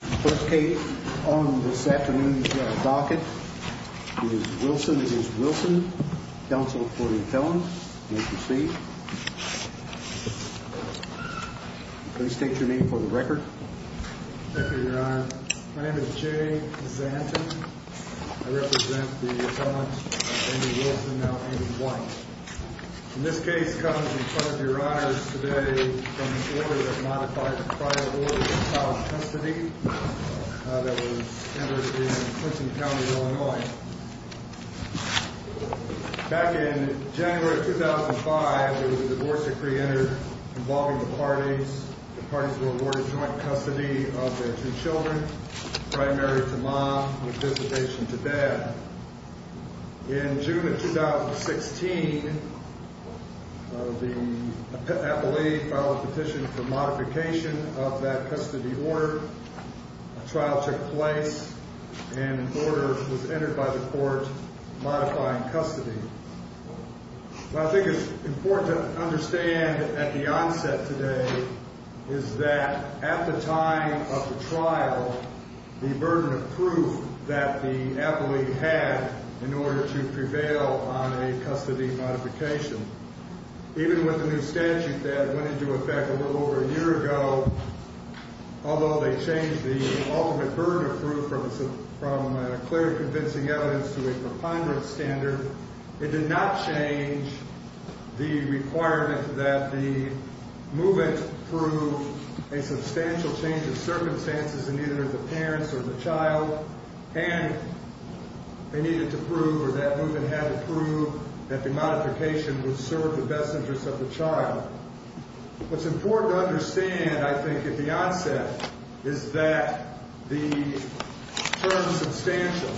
first case on this afternoon's docket. It is Wilson against Wilson, counsel for the appellant. Please proceed. Please state your name for the record. Thank you, Your Honor. My name is Jay Zanton. I represent the appellant, Andy Wilson, now Andy White. This case comes in front of Your Honors today from the order that modifies the prior order of child custody that was entered in Clinton County, Illinois. Back in January 2005, there was a divorce decree entered involving the parties. The parties were awarded joint custody of their two children, primary to mom and dissipation to dad. In June of 2016, the modification of that custody order, a trial took place and an order was entered by the court modifying custody. What I think is important to understand at the onset today is that at the time of the trial, the burden of proof that the appellee had in order to prevail on a custody modification, even with the new standard that was introduced over a year ago, although they changed the ultimate burden of proof from a clear convincing evidence to a preponderant standard, it did not change the requirement that the movement prove a substantial change of circumstances in either the parents or the child, and they needed to prove or that movement had to prove that the modification would serve the best I think at the onset is that the term substantial,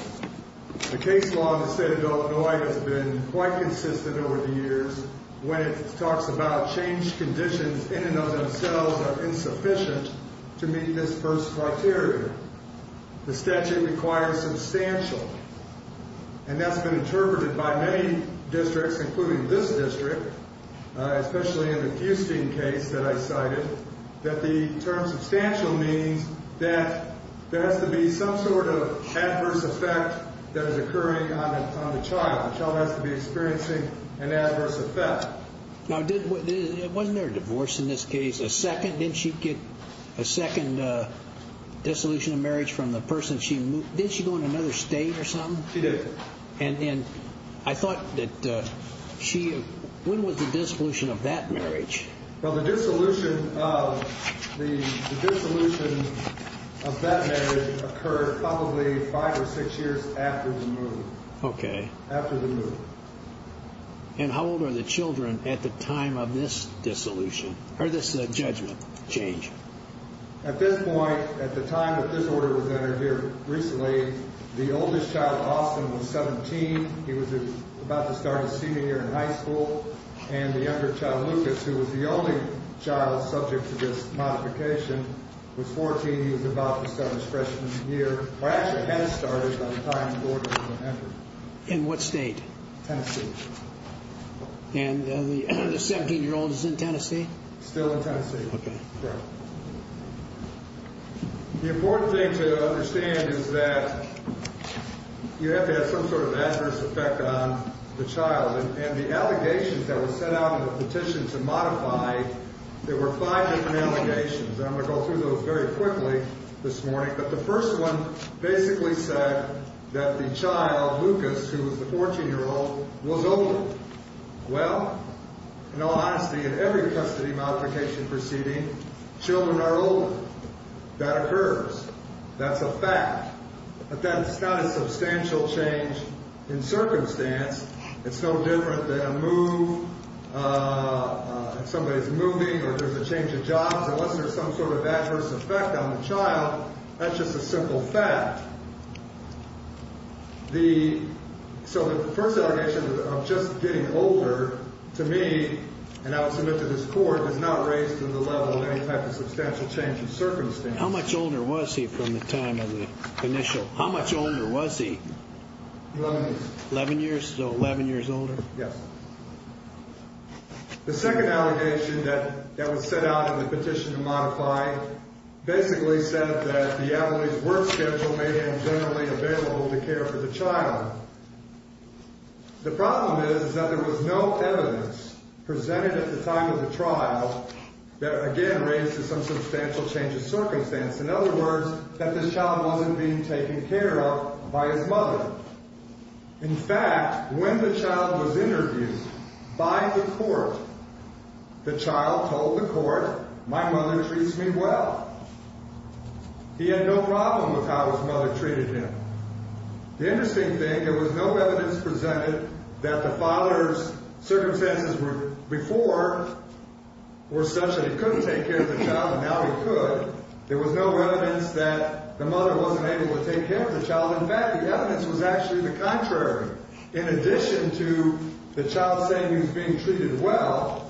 the case law in the state of Illinois has been quite consistent over the years when it talks about change conditions in and of themselves are insufficient to meet this first criteria. The statute requires substantial, and that's been interpreted by many districts, including this district, especially in the Houston case that I cited, that the term substantial means that there has to be some sort of adverse effect that is occurring on the child. The child has to be experiencing an adverse effect. Now, wasn't there a divorce in this case, a second, didn't she get a second dissolution of marriage from the person she moved, did she go in another state or something? She did. And I thought that she, when was the dissolution of that marriage? Well, the dissolution of that marriage occurred probably five or six years after the movement. Okay. After the movement. And how old are the children at the time of this dissolution, or this judgment change? At this point, at the time that this order was entered here recently, the oldest child, Austin, was 17. He was about to start his freshman year in high school. And the younger child, Lucas, who was the only child subject to this modification, was 14. He was about to start his freshman year, or actually had started by the time the order was entered. In what state? Tennessee. And the 17-year-old is in Tennessee? Still in Tennessee. Okay. The important thing to understand is that you have to have some sort of adverse effect on the child. And the allegations that were sent out in the petition to modify, there were five different allegations. And I'm going to go through those very quickly this morning. But the first one basically said that the child, Lucas, who was the 14-year-old, was older. Well, in all honesty, in every custody modification proceeding, children are older. That occurs. That's a fact. But that's not a substantial change in circumstance. It's no different than a move, somebody's moving, or there's a change of jobs. Unless there's some sort of adverse effect on the child, that's just a simple fact. So the first allegation of just getting older, to me, and I will submit to this Court, does not raise to the level of any type of substantial change in circumstance. How much older was he from the time of the initial? How much older was he? Eleven years. Eleven years, so eleven years older? Yes. The second allegation that was sent out in the petition to modify basically said that the Adelaide's work schedule may have been generally available to care for the child. The problem is that there was no evidence presented at the time of the trial that, again, raised to some substantial change in circumstance. In other words, that this child wasn't being taken care of by his mother. In fact, when the child was interviewed by the Court, the child told the Court, my mother treats me well. He had no problem with how his mother treated him. The interesting thing, there was no evidence presented that the father's circumstances before were such that he couldn't take care of the child, and now he could. There was no evidence that the mother wasn't able to take care of the child. In fact, the evidence was actually the contrary. In addition to the child saying he was being treated well,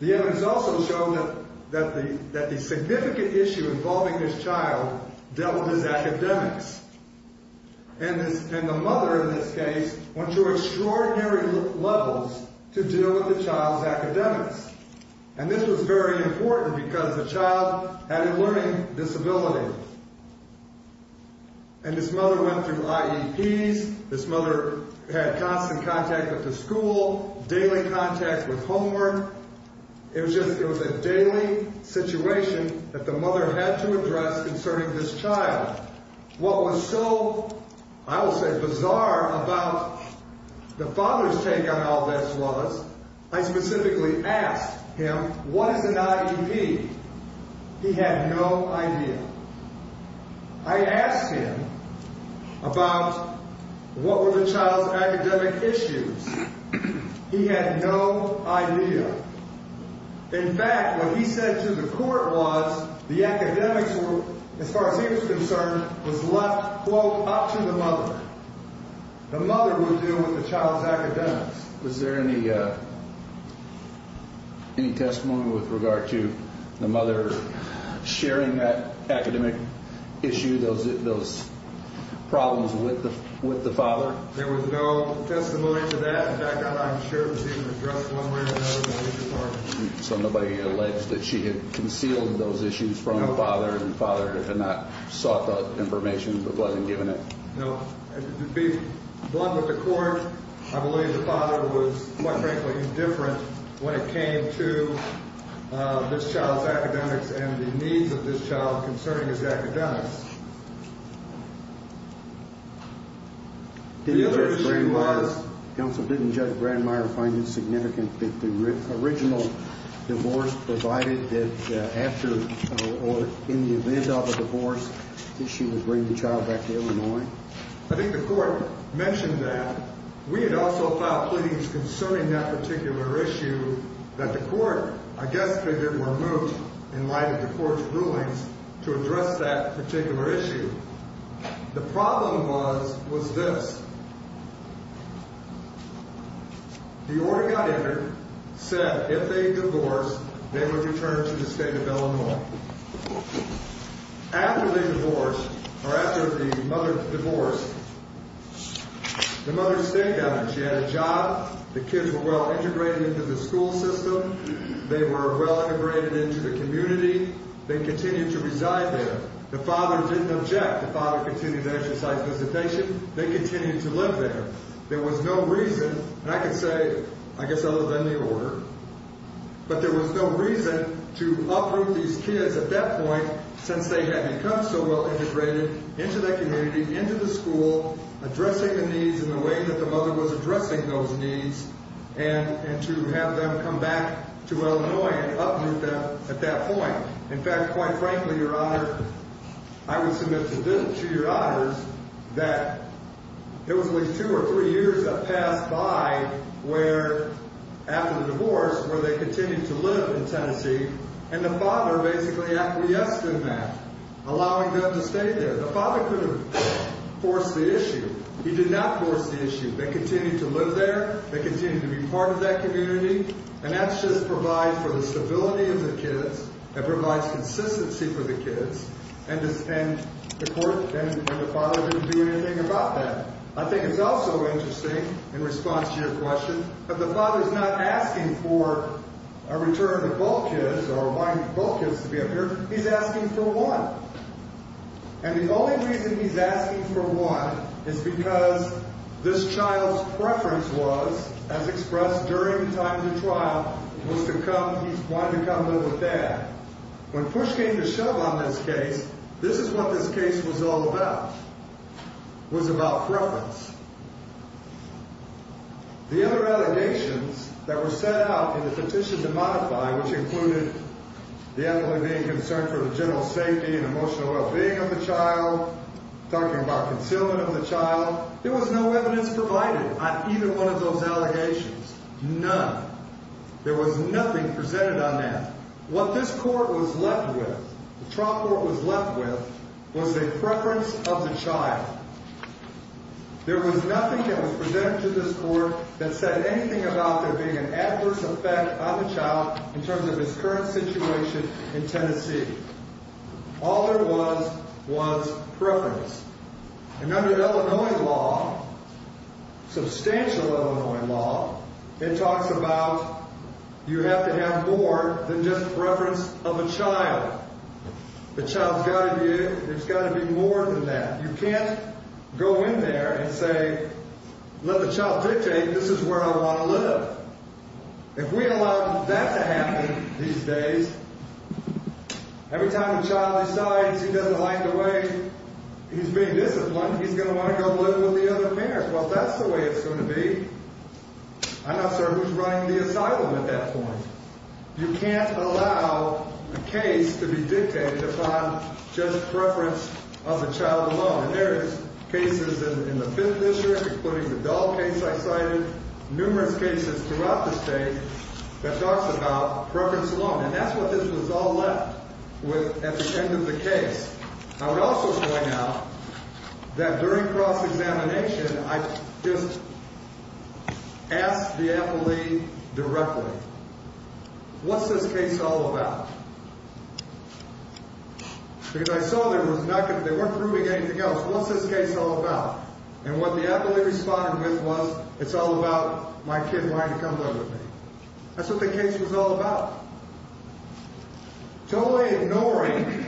the evidence also showed that the significant issue involving this child dealt with his academics. And the mother, in this case, went to extraordinary levels to deal with the child's academics. And this was very important because the child had a learning disability. And this mother went through IEPs. This mother had constant contact with the school, daily contact with homework. It was a daily situation that the mother had to address concerning this child. What was so, I will say, bizarre about the father's take on all this was I specifically asked him, what is an IEP? He had no idea. I asked him about what were the child's academic issues. He had no idea. In fact, what he said to the Court was the academics were, as far as he was concerned, was left, quote, up to the mother. The mother would deal with the child's academics. Was there any testimony with regard to the mother sharing that academic issue, those problems with the father? There was no testimony to that. In fact, I'm sure it was even addressed one way or another in the State Department. So nobody alleged that she had concealed those issues from the father and the information, but wasn't given it? No. To be blunt with the Court, I believe the father was, quite frankly, indifferent when it came to this child's academics and the needs of this child concerning his academics. The other thing was, Counsel, didn't Judge Brandmeier find it significant that the Illinois? I think the Court mentioned that. We had also filed pleadings concerning that particular issue that the Court, I guess, figured were moot in light of the Court's rulings to address that particular issue. The problem was this. The order got entered, said if they divorced, they would return to the State of Illinois, or after the mother divorced. The mother stayed down there. She had a job. The kids were well integrated into the school system. They were well integrated into the community. They continued to reside there. The father didn't object. The father continued to exercise visitation. They continued to live there. There was no reason, and I could say, I guess, other than the order, but there was no reason to uproot these kids at that point since they had become so well integrated into the community, into the school, addressing the needs in the way that the mother was addressing those needs, and to have them come back to Illinois and uproot them at that point. In fact, quite frankly, Your Honor, I would submit to Your Honors that it was at least two or three years that passed by where, after the divorce, where they continued to live in Tennessee, and the father basically acquiesced in that, allowing them to stay there. The father could have forced the issue. He did not force the issue. They continued to live there. They continued to be part of that community, and that's just provided for the stability of the kids. It provides consistency for the kids, and the father didn't do anything about that. I think it's also interesting, in response to your question, that the father's not asking for a return of the bull kids or wanting the bull kids to be up here. He's asking for one. And the only reason he's asking for one is because this child's preference was, as expressed during the time of the trial, was to come. He wanted to come live with dad. When push came to shove on this case, this is what this case was all about, was about preference. The other allegations that were set out in the petition to modify, which included the elderly being concerned for the general safety and emotional well-being of the child, talking about concealment of the child, there was no evidence provided on even one of those allegations. None. There was nothing presented on that. What this court was left with, the trial court was left with, was a preference of the child. There was nothing that was presented to this court that said anything about there current situation in Tennessee. All there was was preference. And under Illinois law, substantial Illinois law, it talks about you have to have more than just preference of a child. The child's got to be in. There's got to be more than that. You can't go in there and say, let the child dictate this is where I want to live. If we allow that to happen these days, every time a child decides he doesn't like the way he's being disciplined, he's going to want to go live with the other parents. Well, that's the way it's going to be. I'm not sure who's running the asylum at that point. You can't allow a case to be dictated upon just preference of the child alone. And there is cases in the Fifth District, including the Dahl case I cited, numerous cases throughout the state that talks about preference alone. And that's what this was all left with at the end of the case. I would also point out that during cross-examination, I just asked the appellee directly, what's this case all about? Because I saw they weren't proving anything else. What's this case all about? And what the appellee responded with was, it's all about my kid wanting to come live with me. That's what the case was all about. Totally ignoring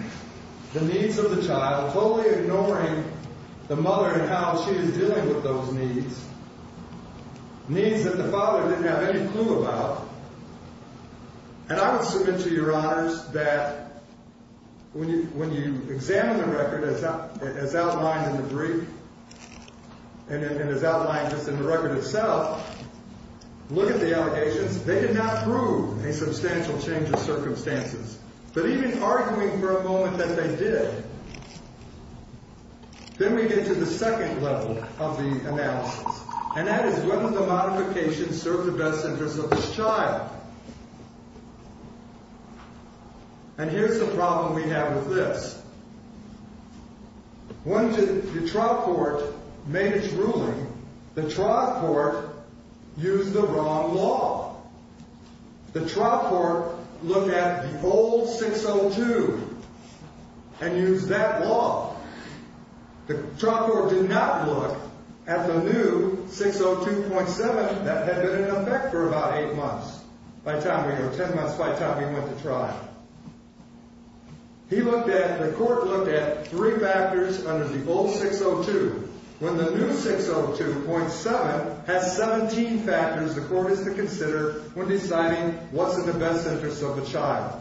the needs of the child, totally ignoring the mother and how she is dealing with those needs, needs that the father didn't have any clue about. And I would submit to your honors that when you examine the record as outlined in the brief and as outlined just in the record itself, look at the allegations. They did not prove a substantial change of circumstances. But even arguing for a moment that they did, then we get to the second level of the analysis. And that is, when did the modification serve the best interests of this child? And here's the problem we have with this. When did the trial court make its ruling? The trial court used the wrong law. The trial court looked at the old 602 and used that law. The trial court did not look at the new 602.7 that had been in effect for about eight months. By the time we were, ten months by the time we went to trial. He looked at, the court looked at three factors under the old 602. When the new 602.7 has 17 factors the court has to consider when deciding what's in the best interest of the child.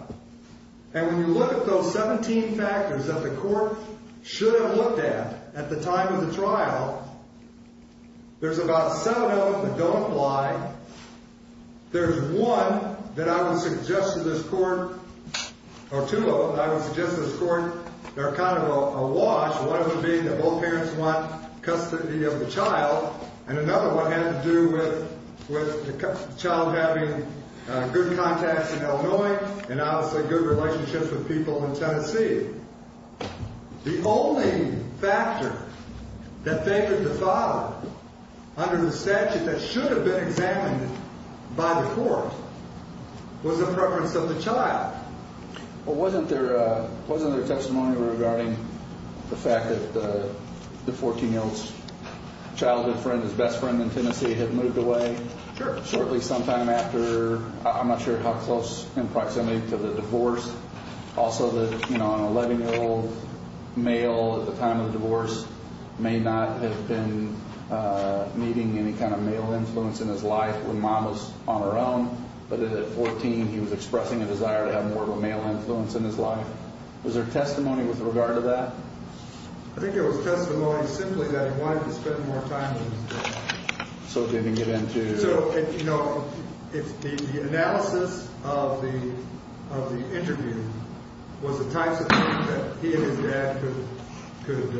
And when you look at those 17 factors that the court should have looked at at the time of the trial, there's about seven of them that don't apply. There's one that I would suggest to this court, or two of them that I would suggest to this court that are kind of a wash. One of them being that both parents want custody of the child. And another one had to do with the child having good contacts in Illinois and obviously good relationships with people in Tennessee. The only factor that they could defile under the statute that should have been examined by the court was the preference of the child. Wasn't there testimony regarding the fact that the 14-year-old's childhood friend, his best friend in Tennessee had moved away? Sure. Shortly sometime after, I'm not sure how close in proximity to the divorce. Also that an 11-year-old male at the time of the divorce may not have been needing any kind of male influence in his life when Mom was on her own. But at 14, he was expressing a desire to have more of a male influence in his life. Was there testimony with regard to that? I think it was testimony simply that he wanted to spend more time with his dad. So it didn't get into... So, you know, the analysis of the interview was the types of things that he and his dad could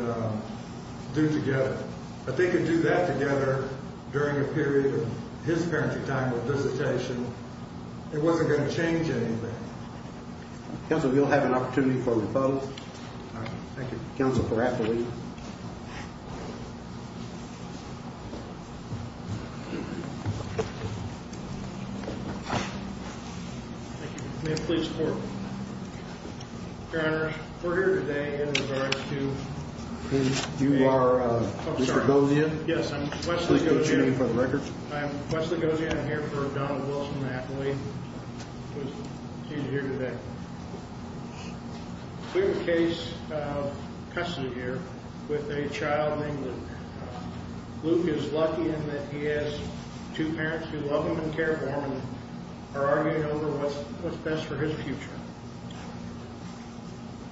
do together. But if they could do that together during a period of his parenting time with visitation, it wasn't going to change anything. Counsel, we'll have an opportunity for repose. Thank you. Counsel, correct me. May I please report? Your Honor, we're here today in regards to... You are Wesley Gozian? Yes, I'm Wesley Gozian. Please go ahead and stand for the record. I'm Wesley Gozian. I'm here for Donald Wilson, an athlete. He's here today. We have a case of custody here with a child named Luke. Luke is lucky in that he has two parents who love him and care for him and are arguing over what's best for his future.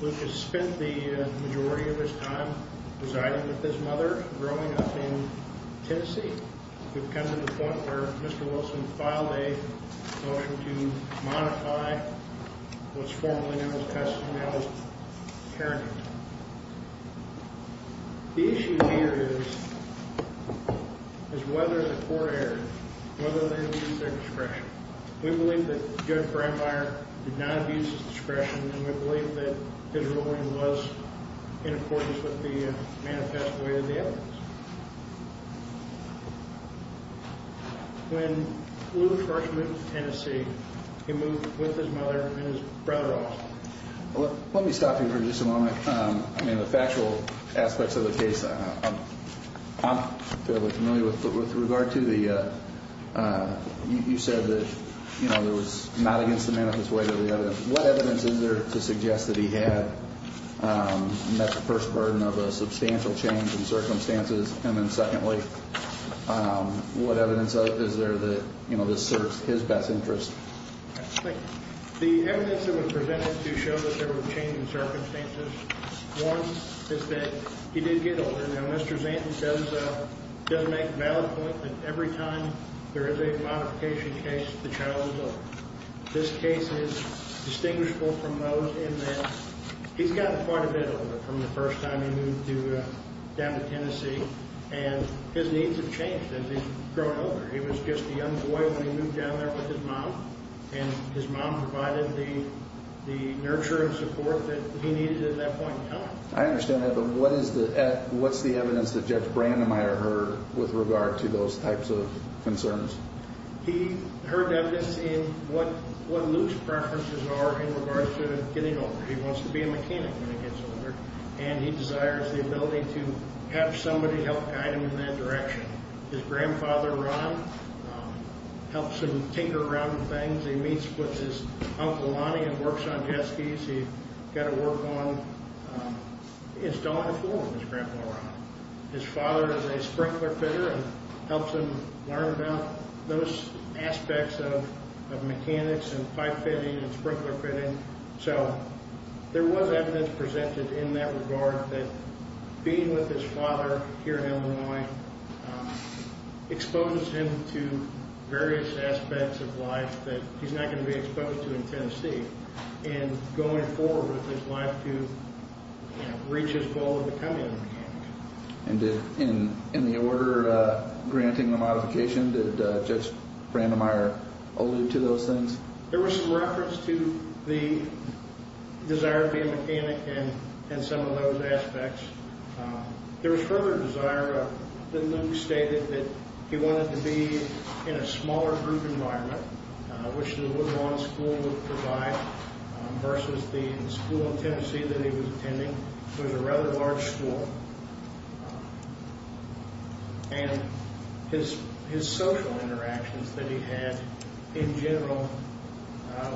Luke has spent the majority of his time residing with his mother, growing up in Tennessee. We've come to the point where Mr. Wilson filed a motion to modify what's formally known as custody, now as parenting. The issue here is whether the court erred, whether they abused their discretion. We believe that Judge Brandmeier did not abuse his discretion, and we believe that his ruling was in accordance with the manifest way of the evidence. When Luke first moved to Tennessee, he moved with his mother and his brother also. Let me stop you for just a moment. I mean, the factual aspects of the case, I'm fairly familiar with, but with regard to the, you said that, you know, there was not against the manifest way of the evidence. What evidence is there to suggest that he had met the first burden of a substantial change in circumstances? And then secondly, what evidence is there that, you know, this serves his best interest? The evidence that was presented to show that there were changes in circumstances, one is that he did get older. Now, Mr. Zanton does make a valid point that every time there is a modification case, the child is older. This case is distinguishable from those in that he's gotten quite a bit older from the first time he moved down to Tennessee, and his needs have changed as he's grown older. He was just a young boy when he moved down there with his mom, and his mom provided the nurture and support that he needed at that point in time. I understand that, but what is the evidence that Judge Brandemeier heard with regard to those types of concerns? He heard evidence in what Luke's preferences are in regards to getting older. He wants to be a mechanic when he gets older, and he desires the ability to have somebody help guide him in that direction. His grandfather, Ron, helps him tinker around with things. He meets with his Uncle Lonnie and works on jet skis. He's got to work on installing a floor for his grandpa, Ron. His father is a sprinkler fitter and helps him learn about those aspects of mechanics and pipe fitting and sprinkler fitting. So there was evidence presented in that regard that being with his father here in Illinois exposes him to various aspects of life that he's not going to be exposed to in Tennessee, and going forward with his life to reach his goal of becoming a mechanic. And in the order granting the modification, did Judge Brandemeier allude to those things? There was some reference to the desire to be a mechanic and some of those aspects. There was further desire that Luke stated that he wanted to be in a smaller group environment, which the Woodlawn School would provide versus the school in Tennessee that he was attending. It was a rather large school, and his social interactions that he had in general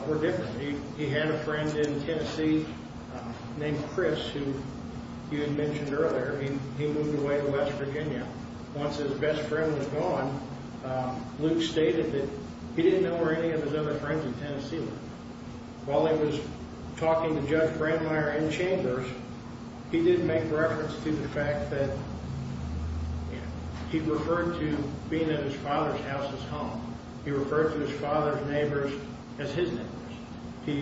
were different. He had a friend in Tennessee named Chris who you had mentioned earlier. He moved away to West Virginia. Once his best friend was gone, Luke stated that he didn't know where any of his other friends in Tennessee were. While he was talking to Judge Brandemeier in Chambers, he did make reference to the fact that he referred to being at his father's house as home. He referred to his father's neighbors as his neighbors. He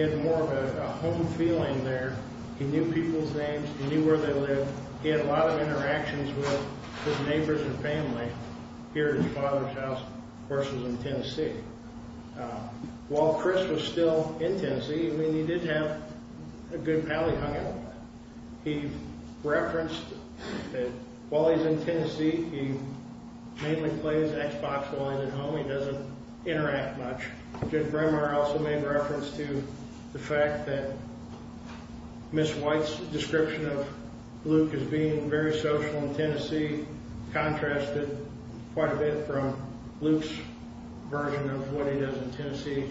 had more of a home feeling there. He knew people's names. He knew where they lived. He had a lot of interactions with his neighbors and family here at his father's house versus in Tennessee. While Chris was still in Tennessee, he did have a good pally hung out with them. He referenced that while he's in Tennessee, he mainly plays Xbox One at home. He doesn't interact much. Judge Brandemeier also made reference to the fact that Ms. White's description of Luke as being very social in Tennessee contrasted quite a bit from Luke's version of what he does in Tennessee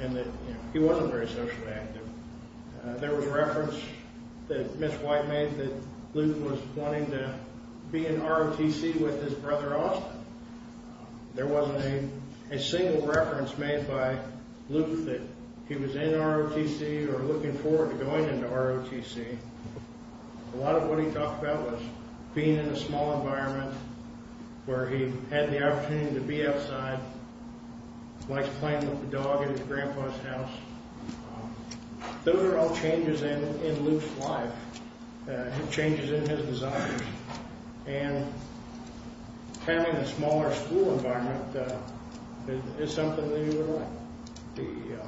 and that he wasn't very socially active. There was reference that Ms. White made that Luke was wanting to be in ROTC with his brother Austin. There wasn't a single reference made by Luke that he was in ROTC or looking forward to going into ROTC. A lot of what he talked about was being in a small environment where he had the opportunity to be outside, likes playing with the dog at his grandpa's house. Those are all changes in Luke's life, changes in his desires. Having a smaller school environment is something that he would like.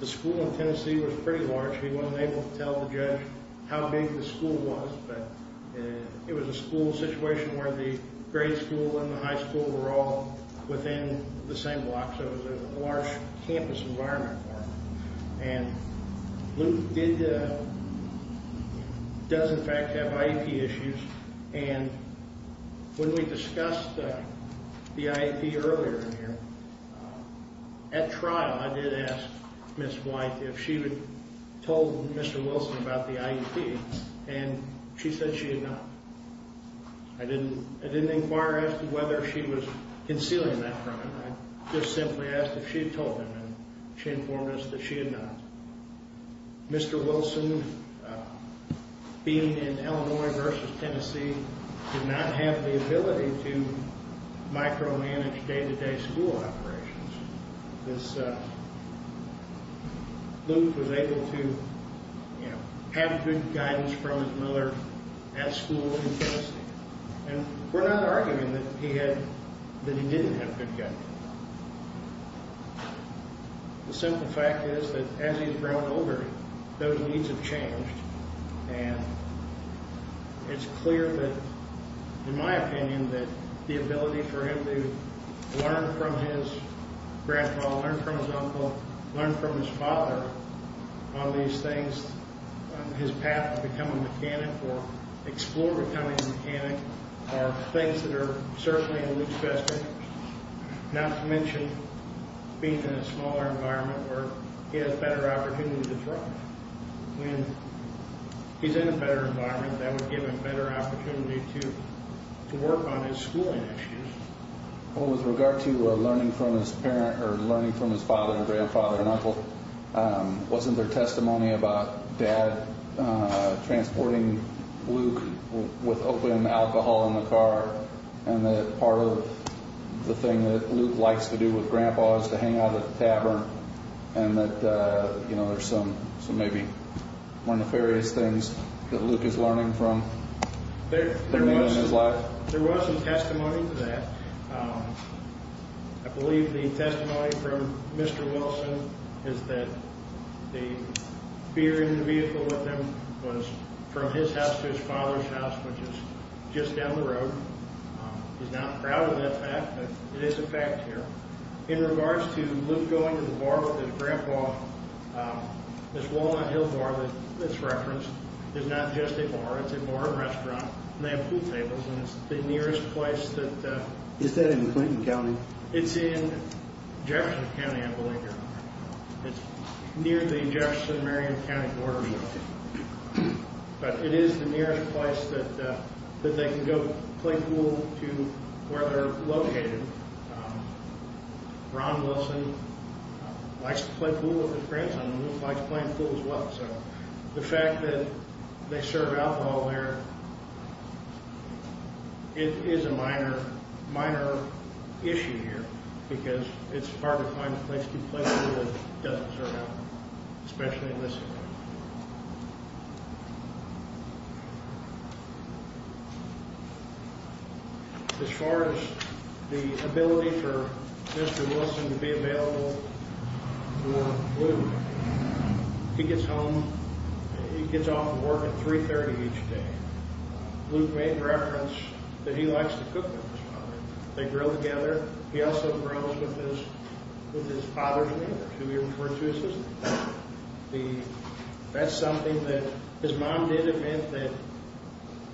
The school in Tennessee was pretty large. He wasn't able to tell the judge how big the school was, but it was a school situation where the grade school and the high school were all within the same block, so it was a large campus environment for him. Luke does in fact have IEP issues. When we discussed the IEP earlier in here, at trial I did ask Ms. White if she had told Mr. Wilson about the IEP and she said she had not. I didn't inquire as to whether she was concealing that from him. I just simply asked if she had told him and she informed us that she had not. Mr. Wilson, being in Illinois versus Tennessee, did not have the ability to micromanage day-to-day school operations. Luke was able to have good guidance from his mother at school in Tennessee. We're not arguing that he didn't have good guidance. The simple fact is that as he's grown older, those needs have changed. It's clear that, in my opinion, the ability for him to learn from his grandpa, learn from his uncle, learn from his father on these things, his path to become a mechanic or explore becoming a mechanic, are things that are certainly in Luke's best interest. Not to mention being in a smaller environment where he has better opportunity to thrive. When he's in a better environment, that would give him better opportunity to work on his schooling issues. With regard to learning from his father and grandfather and uncle, wasn't there testimony about Dad transporting Luke with open alcohol in the car and that part of the thing that Luke likes to do with Grandpa is to hang out at the tavern and that there's some maybe more nefarious things that Luke is learning from? There was some testimony to that. I believe the testimony from Mr. Wilson is that the beer in the vehicle with him was from his house to his father's house, which is just down the road. He's not proud of that fact, but it is a fact here. In regards to Luke going to the bar with his grandpa, this Walnut Hill bar that's referenced is not just a bar. It's a bar and restaurant, and they have pool tables, and it's the nearest place that... Is that in Clinton County? It's in Jefferson County, I believe. It's near the Jefferson and Marion County border. But it is the nearest place that they can go play pool to where they're located. Ron Wilson likes to play pool with his grandson, and Luke likes playing pool as well. The fact that they serve alcohol there is a minor issue here because it's hard to find a place to play pool that doesn't serve alcohol, especially in this area. As far as the ability for Mr. Wilson to be available for Luke, he gets home... He gets off of work at 3.30 each day. Luke made reference that he likes to cook with his father. They grill together. He also grills with his father's neighbor, who we refer to as his mother. That's something that his mom did admit that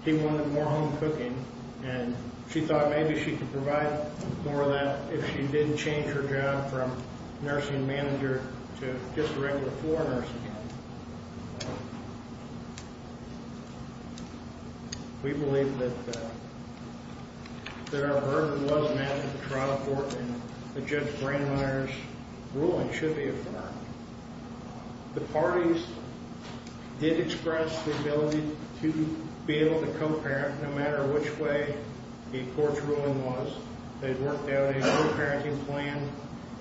he wanted more home cooking, and she thought maybe she could provide more of that if she didn't change her job from nursing manager to just a regular floor nurse. We believe that our verdict was met at the trial court, and Judge Brandmeier's ruling should be affirmed. The parties did express the ability to be able to co-parent, no matter which way the court's ruling was. They worked out a co-parenting plan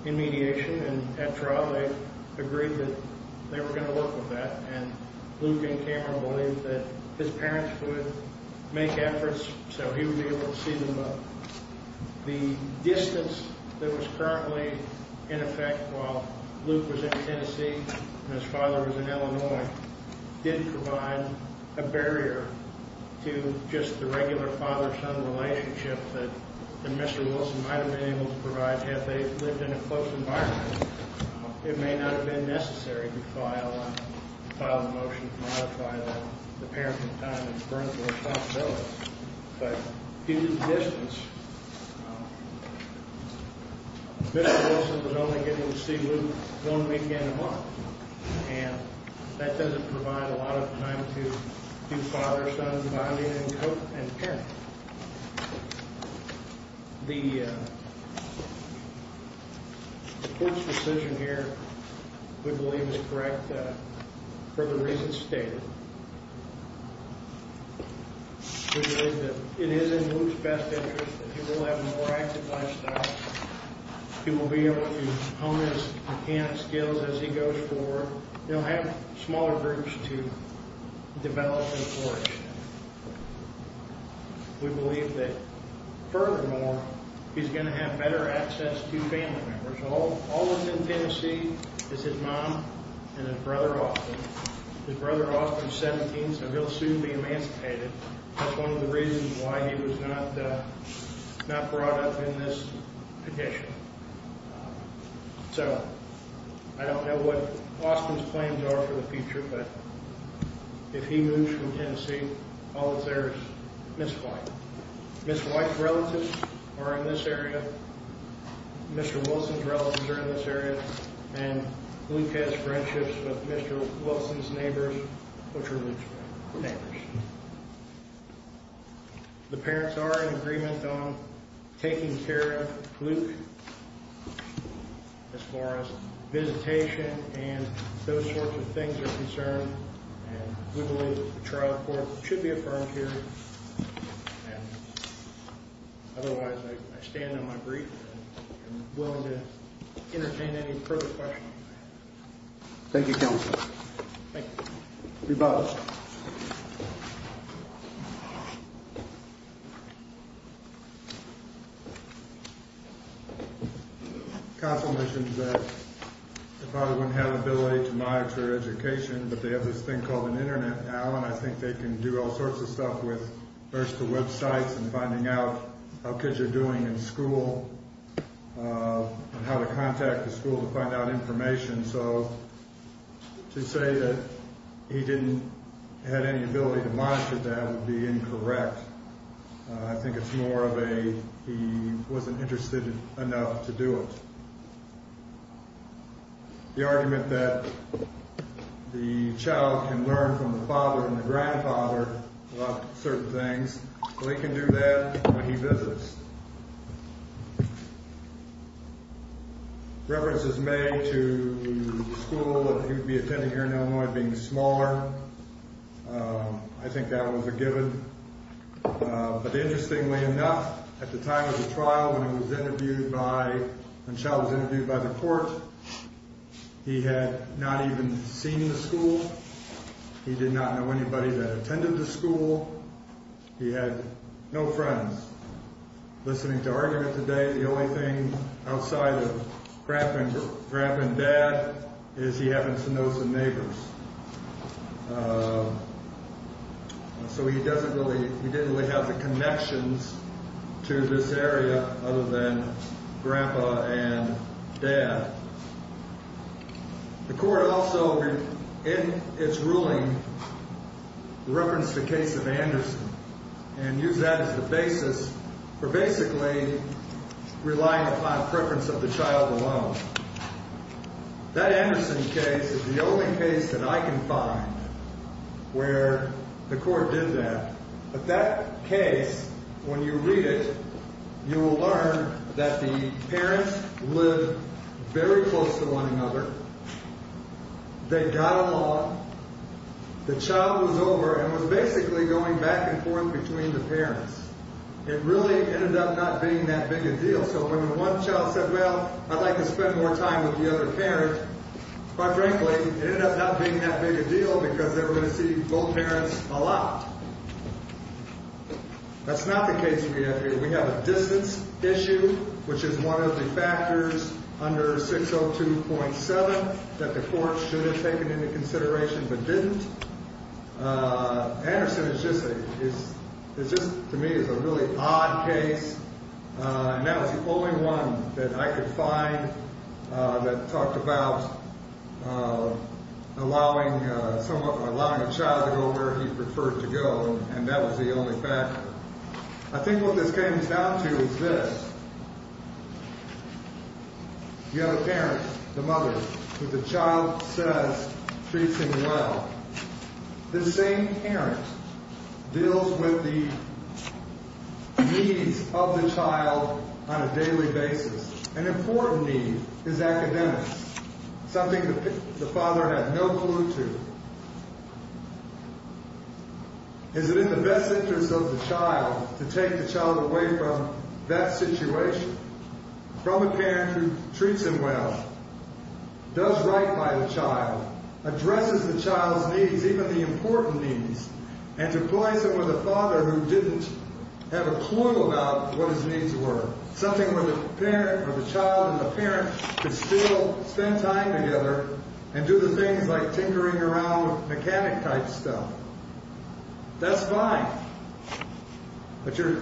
in mediation, and at trial they agreed that they were going to work with that, and Luke and Cameron believed that his parents would make efforts so he would be able to see them both. The distance that was currently in effect while Luke was in Tennessee and his father was in Illinois didn't provide a barrier to just the regular father-son relationship that Mr. Wilson might have been able to provide had they lived in a close environment. It may not have been necessary to file a motion to modify the parenting time and parental responsibility, but due to the distance, Mr. Wilson was only getting to see Luke one weekend a month, and that doesn't provide a lot of time to do father-son bonding and parenting. The court's decision here, we believe, is correct for the reasons stated. We believe that it is in Luke's best interest that he will have a more active lifestyle, he will be able to hone his mechanic skills as he goes forward, he'll have smaller groups to develop and flourish. We believe that furthermore, he's going to have better access to family members. All that's in Tennessee is his mom and his brother Austin. His brother Austin is 17, so he'll soon be emancipated. That's one of the reasons why he was not brought up in this condition. So, I don't know what Austin's plans are for the future, but if he moves from Tennessee, all that's there is Miss White. Miss White's relatives are in this area, Mr. Wilson's relatives are in this area, and Luke has friendships with Mr. Wilson's neighbors, which are Luke's neighbors. The parents are in agreement on taking care of Luke. As far as visitation and those sorts of things are concerned, we believe the trial court should be affirmed here. Otherwise, I stand on my brief and am willing to entertain any further questions. Thank you, counsel. Thank you. You're welcome. Counsel mentioned that the father wouldn't have the ability to monitor education, but they have this thing called an internet now, and I think they can do all sorts of stuff with, first, the websites and finding out how kids are doing in school and how to contact the school to find out information. So, to say that he didn't have any ability to monitor that would be incorrect. I think it's more of a he wasn't interested enough to do it. The argument that the child can learn from the father and the grandfather about certain things, Luke can do that when he visits. Reference is made to the school that he would be attending here in Illinois being smaller. I think that was a given. But interestingly enough, at the time of the trial when he was interviewed by – when the child was interviewed by the court, he had not even seen the school. He did not know anybody that attended the school. He had no friends. Listening to argument today, the only thing outside of grandpa and dad is he happens to know some neighbors. So he doesn't really – he didn't really have the connections to this area other than grandpa and dad. The court also, in its ruling, referenced the case of Anderson and used that as the basis for basically relying upon preference of the child alone. That Anderson case is the only case that I can find where the court did that. But that case, when you read it, you will learn that the parents lived very close to one another. They got along. The child was over and was basically going back and forth between the parents. It really ended up not being that big a deal. So when one child said, well, I'd like to spend more time with the other parent, quite frankly, it ended up not being that big a deal because they were going to see both parents a lot. That's not the case we have here. We have a distance issue, which is one of the factors under 602.7 that the court should have taken into consideration but didn't. Anderson is just a – is just, to me, is a really odd case. And that was the only one that I could find that talked about allowing a child to go where he preferred to go, and that was the only factor. I think what this comes down to is this. You have a parent, the mother, who the child says treats him well. This same parent deals with the needs of the child on a daily basis. An important need is academic, something the father had no clue to. Is it in the best interest of the child to take the child away from that situation, from a parent who treats him well, does right by the child, addresses the child's needs, even the important needs, and deploys him with a father who didn't have a clue about what his needs were, something where the parent or the child and the parent could still spend time together and do the things like tinkering around with mechanic-type stuff? That's fine. But your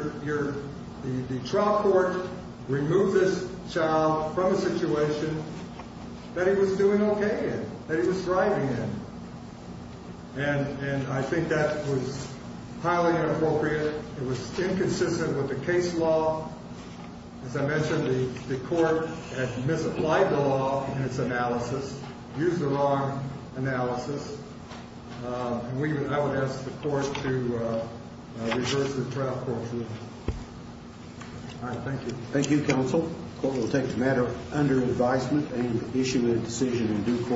– the trial court removed this child from a situation that he was doing okay in, that he was thriving in. And I think that was highly inappropriate. It was inconsistent with the case law. As I mentioned, the court had misapplied the law in its analysis, used the wrong analysis, and I would ask the court to reverse the trial court's ruling. All right, thank you. Thank you, counsel. The court will take the matter under advisement and issue a decision in due course.